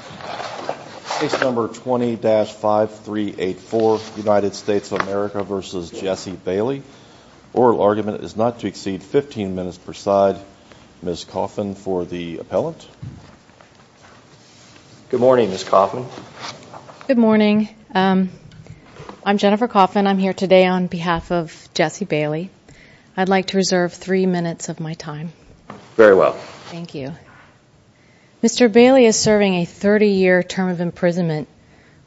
Oral argument is not to exceed 15 minutes per side. Ms. Coffin for the appellant. Good morning, Ms. Coffin. Good morning. I'm Jennifer Coffin. I'm here today on behalf of Jesse Bailey. I'd like to reserve three minutes of my time. Very well. Thank you. Mr. Bailey is serving a 30-year term of imprisonment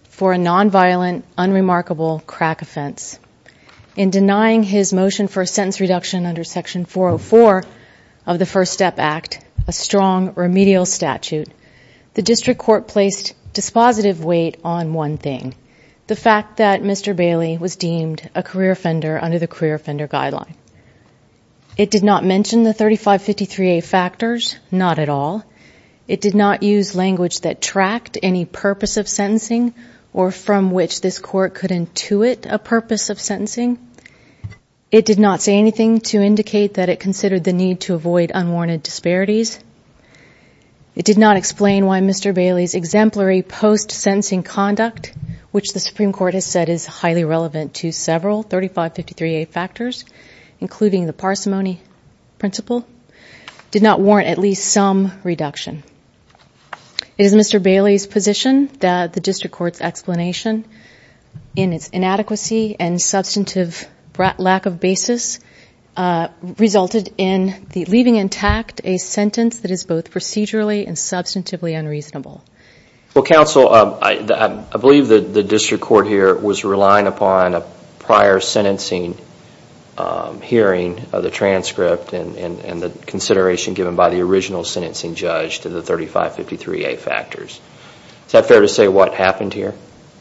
for a non-violent, unremarkable crack offense. In denying his motion for a sentence reduction under Section 404 of the First Step Act, a strong remedial statute, the district court placed dispositive weight on one thing, the fact that Mr. Bailey was deemed a career offender under the career offender guideline. It did not mention the 3553A factors, not at all. It did not use language that tracked any purpose of sentencing or from which this court could intuit a purpose of sentencing. It did not say anything to indicate that it considered the need to avoid unwarranted disparities. It did not explain why Mr. Bailey's exemplary post-sentencing conduct, which the Supreme Court has said is highly relevant to several 3553A factors, including the parsimony principle, did not warrant at least some reduction. It is Mr. Bailey's position that the district court's explanation, in its inadequacy and substantive lack of basis, resulted in leaving intact a sentence that is both procedurally and substantively unreasonable. Well, counsel, I believe the district court here was relying upon a prior sentencing hearing of the transcript and the consideration given by the original sentencing judge to the 3553A factors. Is that fair to say what happened here?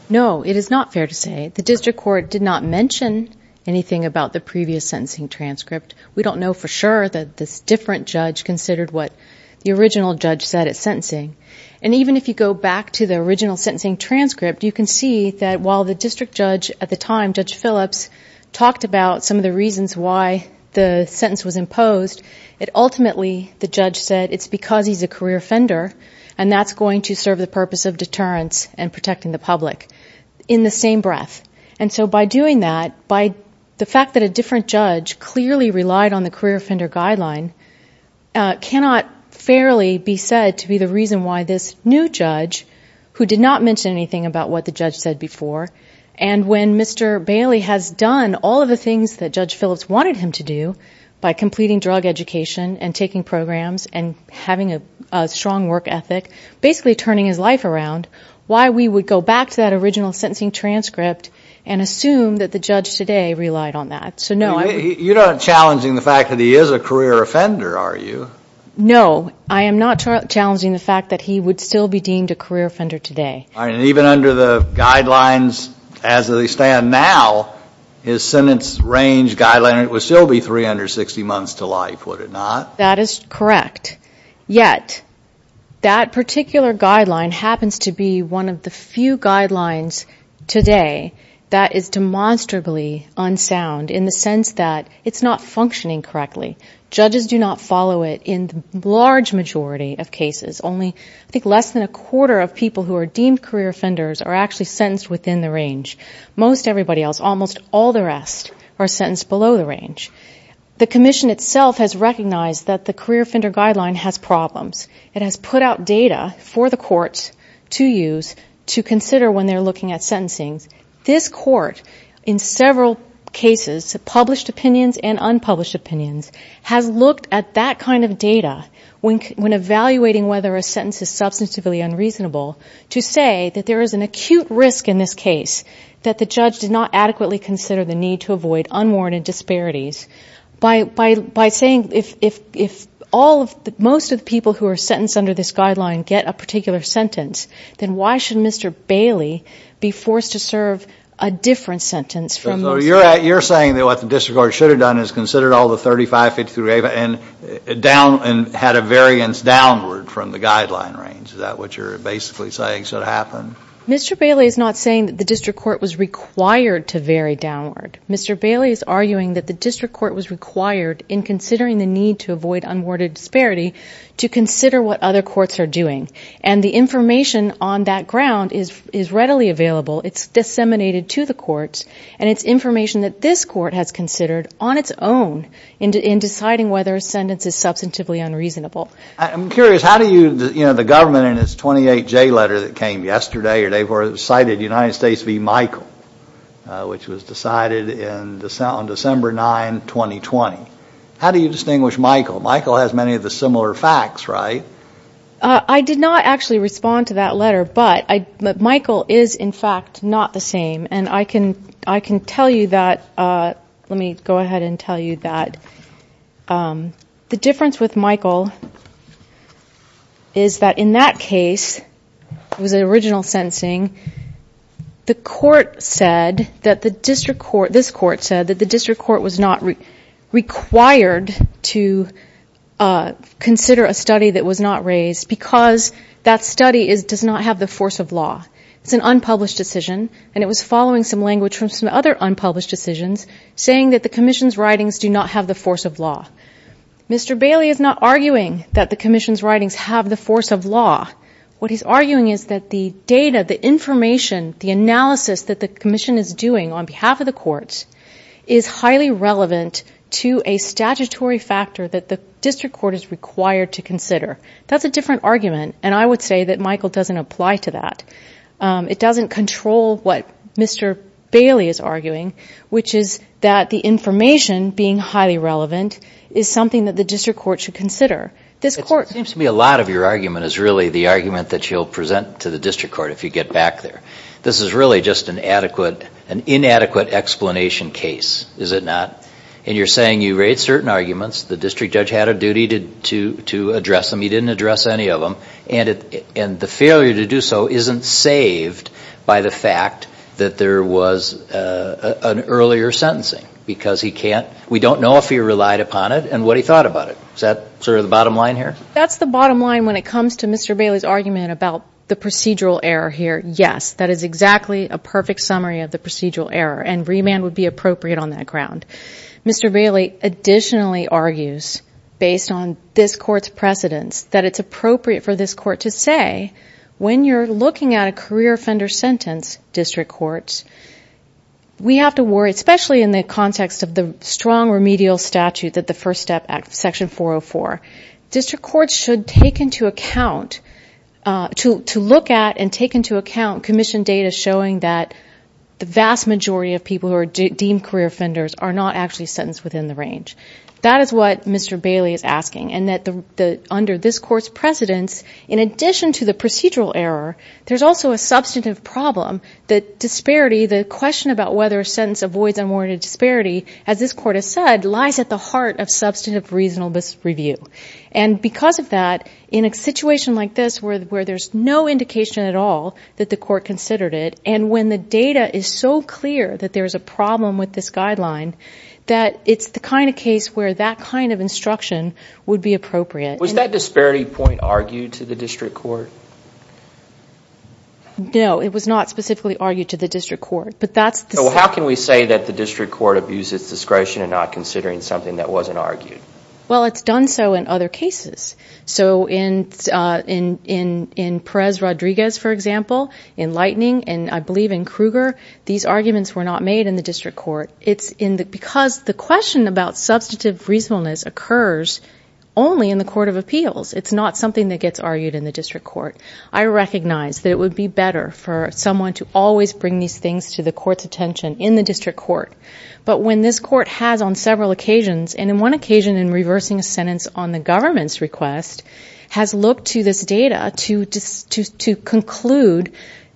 No, it is not fair to say. The district court did not mention anything about the previous sentencing transcript. We don't know for sure that this different judge considered what the original judge said at sentencing. And even if you go back to the original sentencing transcript, you can see that while the district judge at the time, Judge Phillips, talked about some of the reasons why the sentence was imposed, ultimately the judge said it's because he's a career offender and that's going to serve the purpose of deterrence and protecting the public in the same breath. And so by doing that, by the fact that a different judge clearly relied on the career offender guideline, cannot fairly be said to be the reason why this new judge, who did not mention anything about what the judge said before, and when Mr. Bailey has done all of the things that Judge Phillips wanted him to do by completing drug education and taking programs and having a strong work ethic, basically turning his life around, why we would go back to that original sentencing transcript and assume that the judge today relied on that. You're not challenging the fact that he is a career offender, are you? No, I am not challenging the fact that he would still be deemed a career offender today. And even under the guidelines as they stand now, his sentence range guideline would still be 360 months to life, would it not? That is correct. Yet, that particular guideline happens to be one of the few guidelines today that is demonstrably unsound in the sense that it's not functioning correctly. Judges do not follow it in the large majority of cases. Only, I think, less than a quarter of people who are deemed career offenders are actually sentenced within the range. Most everybody else, almost all the rest, are sentenced below the range. The Commission itself has recognized that the career offender guideline has problems. It has put out data for the courts to use to consider when they're looking at sentencing. This court, in several cases, published opinions and unpublished opinions, has looked at that kind of data when evaluating whether a sentence is substantively unreasonable to say that there is an acute risk in this case that the judge did not adequately consider the need to avoid unwarranted disparities. By saying if most of the people who are sentenced under this guideline get a particular sentence, then why should Mr. Bailey be forced to serve a different sentence? You're saying that what the district court should have done is considered all the 35, 53, and had a variance downward from the guideline range. Is that what you're basically saying should have happened? Mr. Bailey is not saying that the district court was required to vary downward. Mr. Bailey is arguing that the district court was required, in considering the need to avoid unwarranted disparity, to consider what other courts are doing. And the information on that ground is readily available. It's disseminated to the courts. And it's information that this court has considered on its own in deciding whether a sentence is substantively unreasonable. I'm curious, how do you, you know, the government in its 28J letter that came yesterday, or day before, cited United States v. Michael, which was decided on December 9, 2020. How do you distinguish Michael? Michael has many of the similar facts, right? I did not actually respond to that letter, but Michael is, in fact, not the same. And I can tell you that, let me go ahead and tell you that the difference with Michael is that in that case, it was an original sentencing, the court said that the district court, this court said that the district court was not required to consider a study that was not raised, because that study does not have the force of law. It's an unpublished decision, and it was following some language from some other unpublished decisions, saying that the commission's writings do not have the force of law. Mr. Bailey is not arguing that the commission's writings have the force of law. What he's arguing is that the data, the information, the analysis that the commission is doing on behalf of the courts is highly relevant to a statutory factor that the district court is required to consider. That's a different argument, and I would say that Michael doesn't apply to that. It doesn't control what Mr. Bailey is arguing, which is that the information being highly relevant is something that the district court should consider. It seems to me a lot of your argument is really the argument that you'll present to the district court if you get back there. This is really just an inadequate explanation case, is it not? And you're saying you raised certain arguments, the district judge had a duty to address them, he didn't address any of them, and the failure to do so isn't saved by the fact that there was an earlier sentencing, because we don't know if he relied upon it and what he thought about it. Is that sort of the bottom line here? That's the bottom line when it comes to Mr. Bailey's argument about the procedural error here. Yes, that is exactly a perfect summary of the procedural error, and remand would be appropriate on that ground. Mr. Bailey additionally argues, based on this Court's precedence, that it's appropriate for this Court to say when you're looking at a career offender sentence, district courts, we have to worry, especially in the context of the strong remedial statute that the First Step Act, Section 404, district courts should take into account, to look at and take into account commission data showing that the vast majority of people who are deemed career offenders are not actually sentenced within the range. That is what Mr. Bailey is asking, and that under this Court's precedence, in addition to the procedural error, there's also a substantive problem that disparity, the question about whether a sentence avoids unwarranted disparity, as this Court has said, lies at the heart of substantive, reasonable review. And because of that, in a situation like this, where there's no indication at all that the Court considered it, and when the data is so clear that there's a problem with this guideline, that it's the kind of case where that kind of instruction would be appropriate. Was that disparity point argued to the district court? No, it was not specifically argued to the district court. How can we say that the district court abuses discretion and not considering something that wasn't argued? Well, it's done so in other cases. So in Perez-Rodriguez, for example, in Lightning, and I believe in Kruger, these arguments were not made in the district court. Because the question about substantive reasonableness occurs only in the court of appeals. It's not something that gets argued in the district court. I recognize that it would be better for someone to always bring these things to the Court's attention in the district court. But when this Court has on several occasions, and in one occasion in reversing a sentence on the government's request, has looked to this data to conclude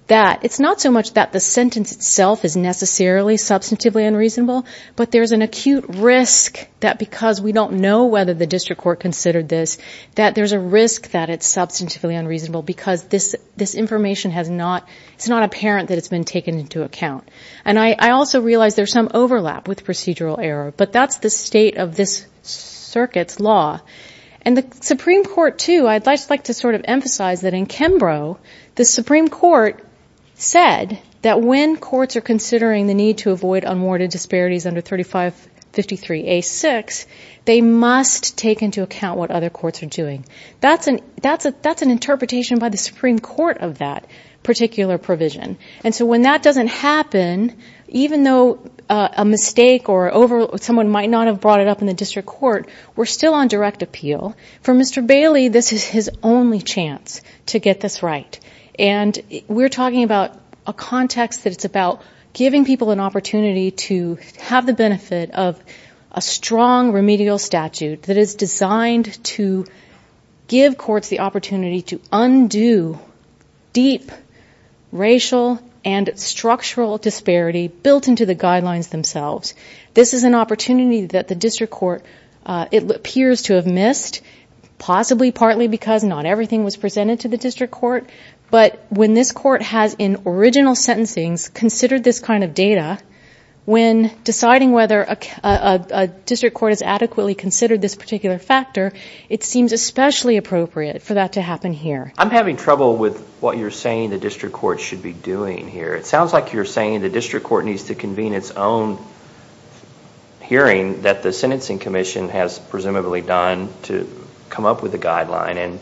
that it's not so much that the sentence itself is necessarily substantively unreasonable, but there's an acute risk that because we don't know whether the district court considered this, that there's a risk that it's substantively unreasonable because this information has not, it's not apparent that it's been taken into account. And I also realize there's some overlap with procedural error, but that's the state of this circuit's law. And the Supreme Court, too, I'd like to sort of emphasize that in Kembro, the Supreme Court said that when courts are considering the need to avoid unwarranted disparities under 3553A6, they must take into account what other courts are doing. That's an interpretation by the Supreme Court of that particular provision. And so when that doesn't happen, even though a mistake or someone might not have brought it up in the district court, we're still on direct appeal. For Mr. Bailey, this is his only chance to get this right. And we're talking about a context that it's about giving people an opportunity to have the benefit of a strong remedial statute that is designed to give courts the opportunity to undo deep racial and structural disparity built into the guidelines themselves. This is an opportunity that the district court, it appears to have missed, possibly partly because not everything was presented to the district court. But when this court has, in original sentencing, considered this kind of data, when deciding whether a district court has adequately considered this particular factor, it seems especially appropriate for that to happen here. I'm having trouble with what you're saying the district court should be doing here. It sounds like you're saying the district court needs to convene its own hearing that the sentencing commission has presumably done to come up with a guideline and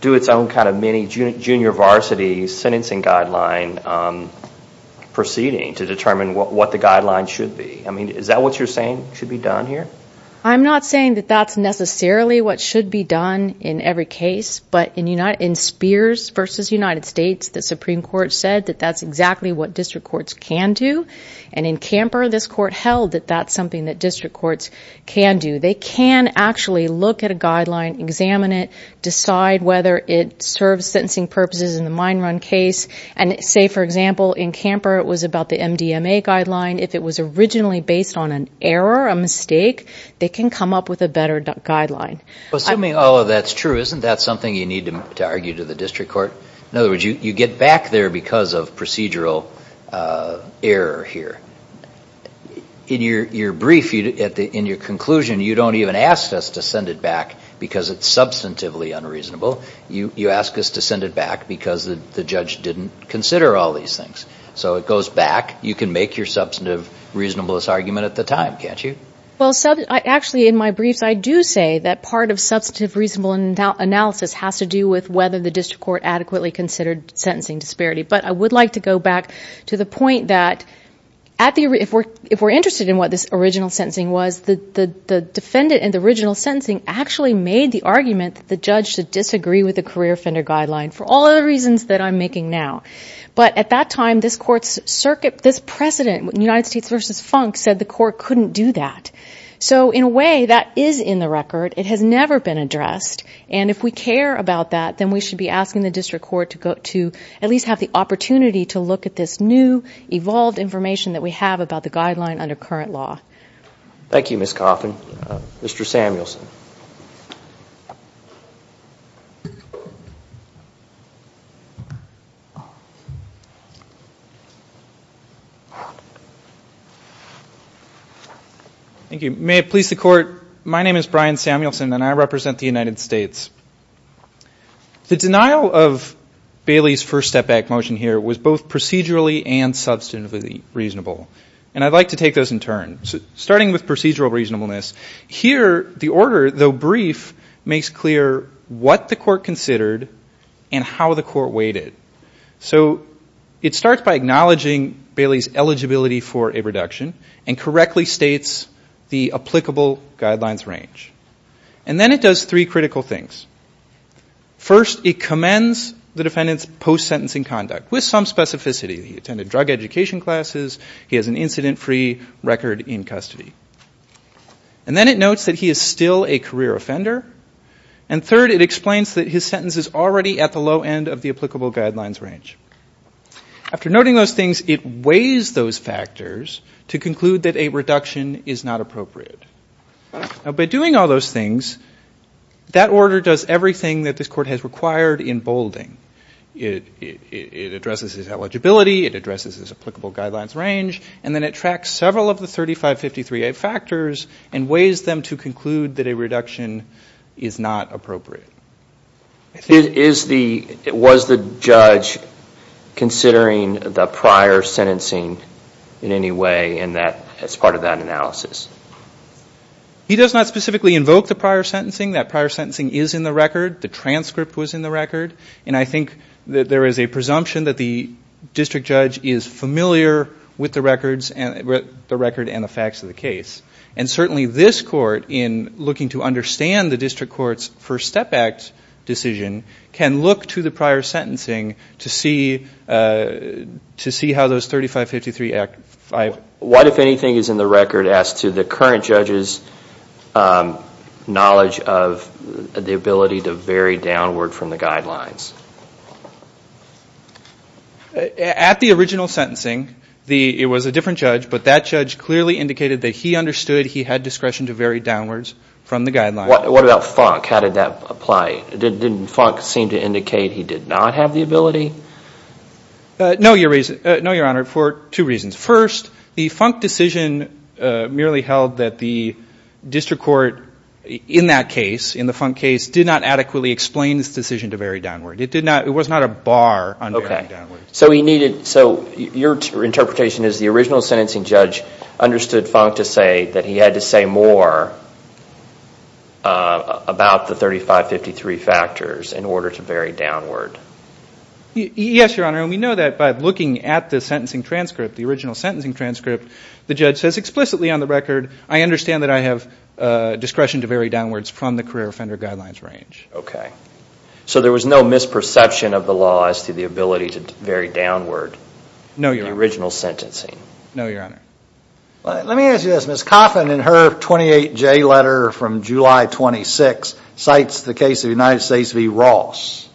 do its own kind of mini junior varsity sentencing guideline proceeding to determine what the guideline should be. I mean, is that what you're saying should be done here? I'm not saying that that's necessarily what should be done in every case. But in Spears v. United States, the Supreme Court said that that's exactly what district courts can do. And in Camper, this court held that that's something that district courts can do. They can actually look at a guideline, examine it, decide whether it serves sentencing purposes in the mine run case. And say, for example, in Camper, it was about the MDMA guideline. If it was originally based on an error, a mistake, they can come up with a better guideline. Assuming all of that's true, isn't that something you need to argue to the district court? In other words, you get back there because of procedural error here. In your brief, in your conclusion, you don't even ask us to send it back because it's substantively unreasonable. You ask us to send it back because the judge didn't consider all these things. So it goes back. You can make your substantive reasonableness argument at the time, can't you? Well, actually, in my briefs, I do say that part of substantive reasonable analysis has to do with whether the district court adequately considered sentencing disparity. But I would like to go back to the point that if we're interested in what this original sentencing was, the defendant in the original sentencing actually made the argument that the judge should disagree with the career offender guideline for all other reasons that I'm making now. But at that time, this president in United States v. Funk said the court couldn't do that. So in a way, that is in the record. It has never been addressed. And if we care about that, then we should be asking the district court to at least have the opportunity to look at this new, evolved information that we have about the guideline under current law. Thank you, Ms. Coffin. Mr. Samuelson. Thank you. May it please the court, my name is Brian Samuelson, and I represent the United States. The denial of Bailey's first step back motion here was both procedurally and substantively reasonable. And I'd like to take those in turn. Starting with procedural reasonableness, here the order, though brief, makes clear what the court considered and how the court weighed it. So it starts by acknowledging Bailey's eligibility for a reduction and correctly states the applicable guidelines range. And then it does three critical things. First, it commends the defendant's post-sentencing conduct with some specificity. He attended drug education classes. He has an incident-free record in custody. And then it notes that he is still a career offender. And third, it explains that his sentence is already at the low end of the applicable guidelines range. After noting those things, it weighs those factors to conclude that a reduction is not appropriate. By doing all those things, that order does everything that this court has required in bolding. It addresses his eligibility. It addresses his applicable guidelines range. And then it tracks several of the 3553A factors and weighs them to conclude that a reduction is not appropriate. Was the judge considering the prior sentencing in any way as part of that analysis? He does not specifically invoke the prior sentencing. That prior sentencing is in the record. The transcript was in the record. And I think that there is a presumption that the district judge is familiar with the records and the facts of the case. And certainly this court, in looking to understand the district court's First Step Act decision, can look to the prior sentencing to see how those 3553A factors apply. What, if anything, is in the record as to the current judge's knowledge of the ability to vary downward from the guidelines? At the original sentencing, it was a different judge, but that judge clearly indicated that he understood he had discretion to vary downwards from the guidelines. What about Funk? How did that apply? Didn't Funk seem to indicate he did not have the ability? No, Your Honor, for two reasons. First, the Funk decision merely held that the district court in that case, in the Funk case, did not adequately explain this decision to vary downward. It was not a bar on varying downward. Okay. So your interpretation is the original sentencing judge understood Funk to say that he had to say more about the 3553 factors in order to vary downward. Yes, Your Honor. And we know that by looking at the sentencing transcript, the original sentencing transcript, the judge says explicitly on the record, I understand that I have discretion to vary downwards from the career offender guidelines range. Okay. So there was no misperception of the law as to the ability to vary downward? No, Your Honor. The original sentencing? No, Your Honor. Let me ask you this. Ms. Coffin, in her 28J letter from July 26, cites the case of the United States v. Ross.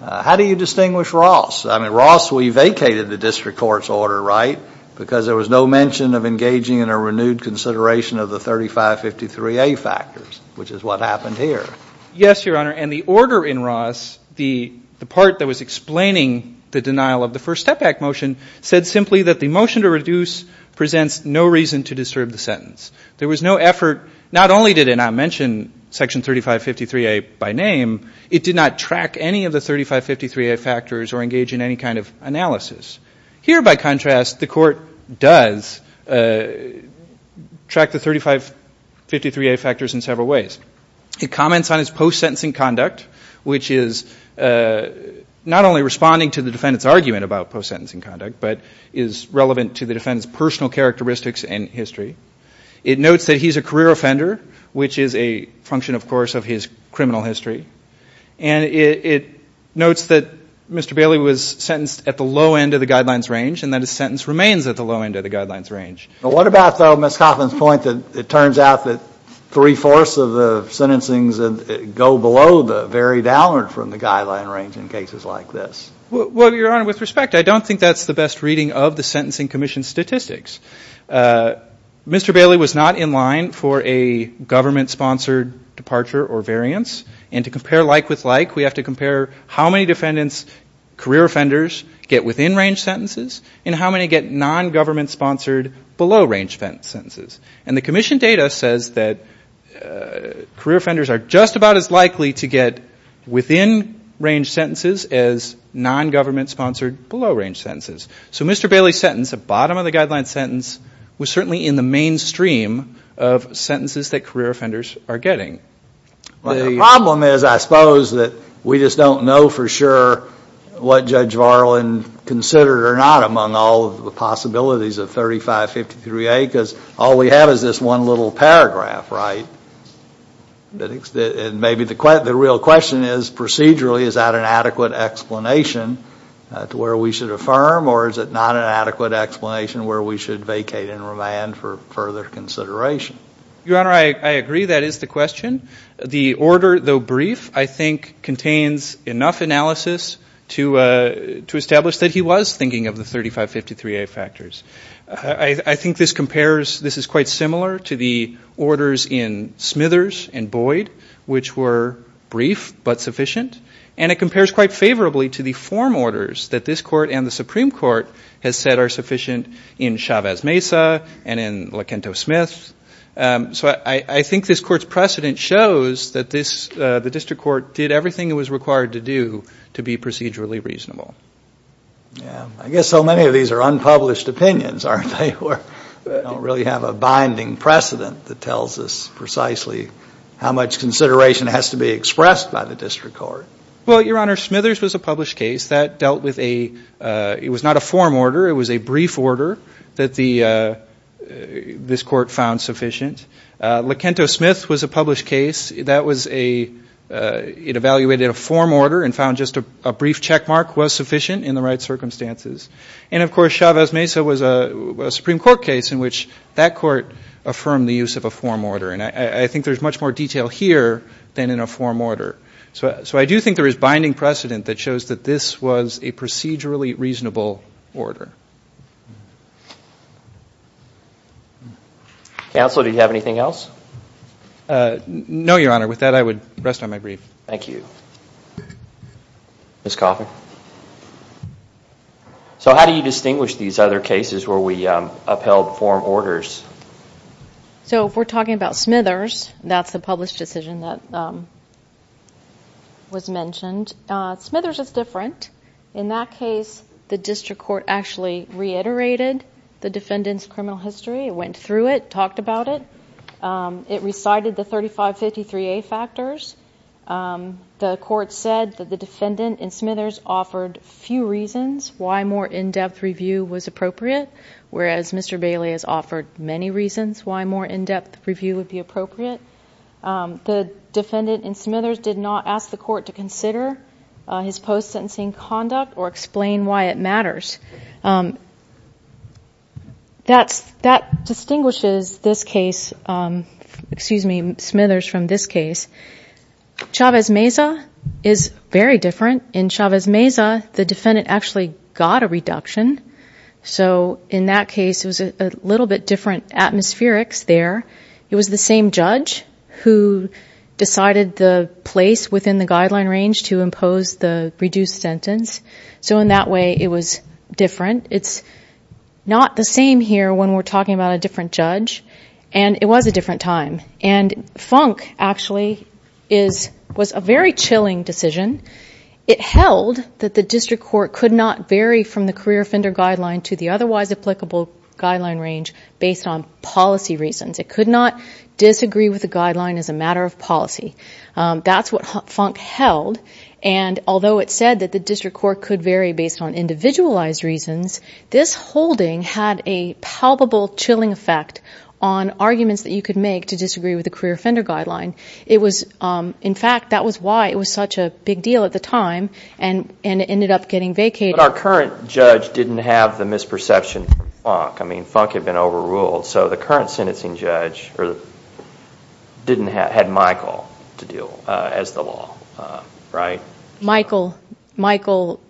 How do you distinguish Ross? I mean, Ross, we vacated the district court's order, right, because there was no mention of engaging in a renewed consideration of the 3553A factors, which is what happened here. Yes, Your Honor. And the order in Ross, the part that was explaining the denial of the first step back motion, said simply that the motion to reduce presents no reason to disturb the sentence. There was no effort. Not only did it not mention Section 3553A by name, it did not track any of the 3553A factors or engage in any kind of analysis. Here, by contrast, the court does track the 3553A factors in several ways. It comments on his post-sentencing conduct, which is not only responding to the defendant's argument about post-sentencing conduct, but is relevant to the defendant's personal characteristics and history. It notes that he's a career offender, which is a function, of course, of his criminal history. And it notes that Mr. Bailey was sentenced at the low end of the guidelines range and that his sentence remains at the low end of the guidelines range. But what about, though, Ms. Coffin's point that it turns out that three-fourths of the sentencings go below the very downward from the guideline range in cases like this? Well, Your Honor, with respect, I don't think that's the best reading of the Sentencing Commission's statistics. Mr. Bailey was not in line for a government-sponsored departure or variance. And to compare like with like, we have to compare how many defendants, career offenders, get within-range sentences and how many get non-government-sponsored below-range sentences. And the Commission data says that career offenders are just about as likely to get within-range sentences as non-government-sponsored below-range sentences. So Mr. Bailey's sentence, the bottom of the guideline sentence, was certainly in the mainstream of sentences that career offenders are getting. The problem is, I suppose, that we just don't know for sure what Judge Varlin considered or not among all of the possibilities of 3553A because all we have is this one little paragraph, right? And maybe the real question is, procedurally, is that an adequate explanation to where we should affirm? Or is it not an adequate explanation where we should vacate and remand for further consideration? Your Honor, I agree. That is the question. The order, though brief, I think contains enough analysis to establish that he was thinking of the 3553A factors. I think this compares, this is quite similar to the orders in Smithers and Boyd, which were brief but sufficient. And it compares quite favorably to the form orders that this Court and the Supreme Court has said are sufficient in Chavez-Mesa and in Lacanto-Smith. So I think this Court's precedent shows that the district court did everything it was required to do to be procedurally reasonable. Yeah. I guess so many of these are unpublished opinions, aren't they? We don't really have a binding precedent that tells us precisely how much consideration has to be expressed by the district court. Well, Your Honor, Smithers was a published case that dealt with a, it was not a form order, it was a brief order that this Court found sufficient. Lacanto-Smith was a published case that was a, it evaluated a form order and found just a brief checkmark was sufficient in the right circumstances. And, of course, Chavez-Mesa was a Supreme Court case in which that court affirmed the use of a form order. And I think there's much more detail here than in a form order. So I do think there is binding precedent that shows that this was a procedurally reasonable order. Counsel, do you have anything else? No, Your Honor. With that, I would rest on my brief. Thank you. Ms. Coffin. So how do you distinguish these other cases where we upheld form orders? So if we're talking about Smithers, that's the published decision that was mentioned. Smithers is different. In that case, the district court actually reiterated the defendant's criminal history. It went through it, talked about it. It recited the 3553A factors. The court said that the defendant in Smithers offered few reasons why more in-depth review was appropriate, whereas Mr. Bailey has offered many reasons why more in-depth review would be appropriate. The defendant in Smithers did not ask the court to consider his post-sentencing conduct or explain why it matters. That distinguishes Smithers from this case. Chavez-Mesa is very different. In Chavez-Mesa, the defendant actually got a reduction. So in that case, it was a little bit different atmospherics there. It was the same judge who decided the place within the guideline range to impose the reduced sentence. So in that way, it was different. It's not the same here when we're talking about a different judge, and it was a different time. And Funk, actually, was a very chilling decision. It held that the district court could not vary from the career offender guideline to the otherwise applicable guideline range based on policy reasons. It could not disagree with the guideline as a matter of policy. That's what Funk held. And although it said that the district court could vary based on individualized reasons, this holding had a palpable chilling effect on arguments that you could make to disagree with the career offender guideline. In fact, that was why it was such a big deal at the time, and it ended up getting vacated. But our current judge didn't have the misperception from Funk. I mean, Funk had been overruled. So the current sentencing judge had Michael to deal as the law, right? Michael. Michael,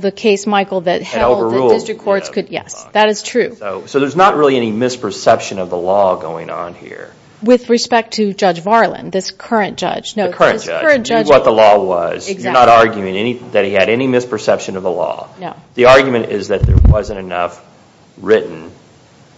the case Michael that held that district courts could – yes, that is true. So there's not really any misperception of the law going on here. With respect to Judge Varlin, this current judge. The current judge. What the law was. Exactly. You're not arguing that he had any misperception of the law. No. The argument is that there wasn't enough written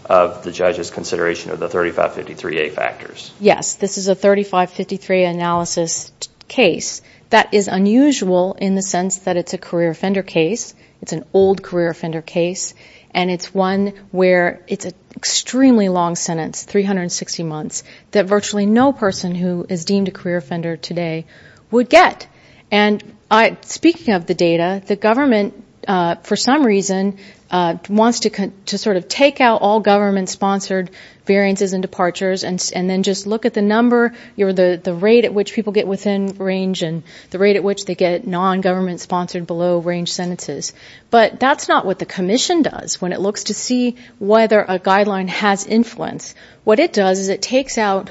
of the judge's consideration of the 3553A factors. Yes. This is a 3553A analysis case. That is unusual in the sense that it's a career offender case. It's an old career offender case. And it's one where it's an extremely long sentence, 360 months, that virtually no person who is deemed a career offender today would get. And speaking of the data, the government, for some reason, wants to sort of take out all government-sponsored variances and departures and then just look at the number or the rate at which people get within range and the rate at which they get non-government-sponsored below-range sentences. But that's not what the commission does when it looks to see whether a guideline has influence. What it does is it takes out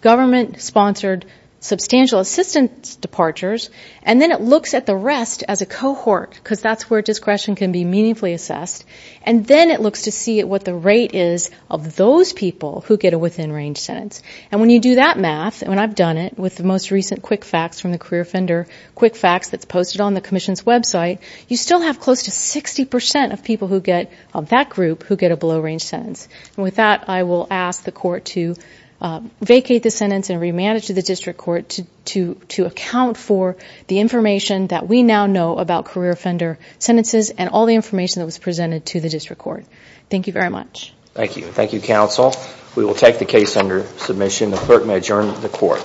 government-sponsored substantial assistance departures and then it looks at the rest as a cohort because that's where discretion can be meaningfully assessed. And then it looks to see what the rate is of those people who get a within-range sentence. And when you do that math, and I've done it with the most recent quick facts from the career offender, quick facts that's posted on the commission's website, you still have close to 60 percent of people who get that group who get a below-range sentence. And with that, I will ask the court to vacate the sentence and remand it to the district court to account for the information that we now know about career offender sentences and all the information that was presented to the district court. Thank you very much. Thank you. Thank you, counsel. We will take the case under submission. The clerk may adjourn the court.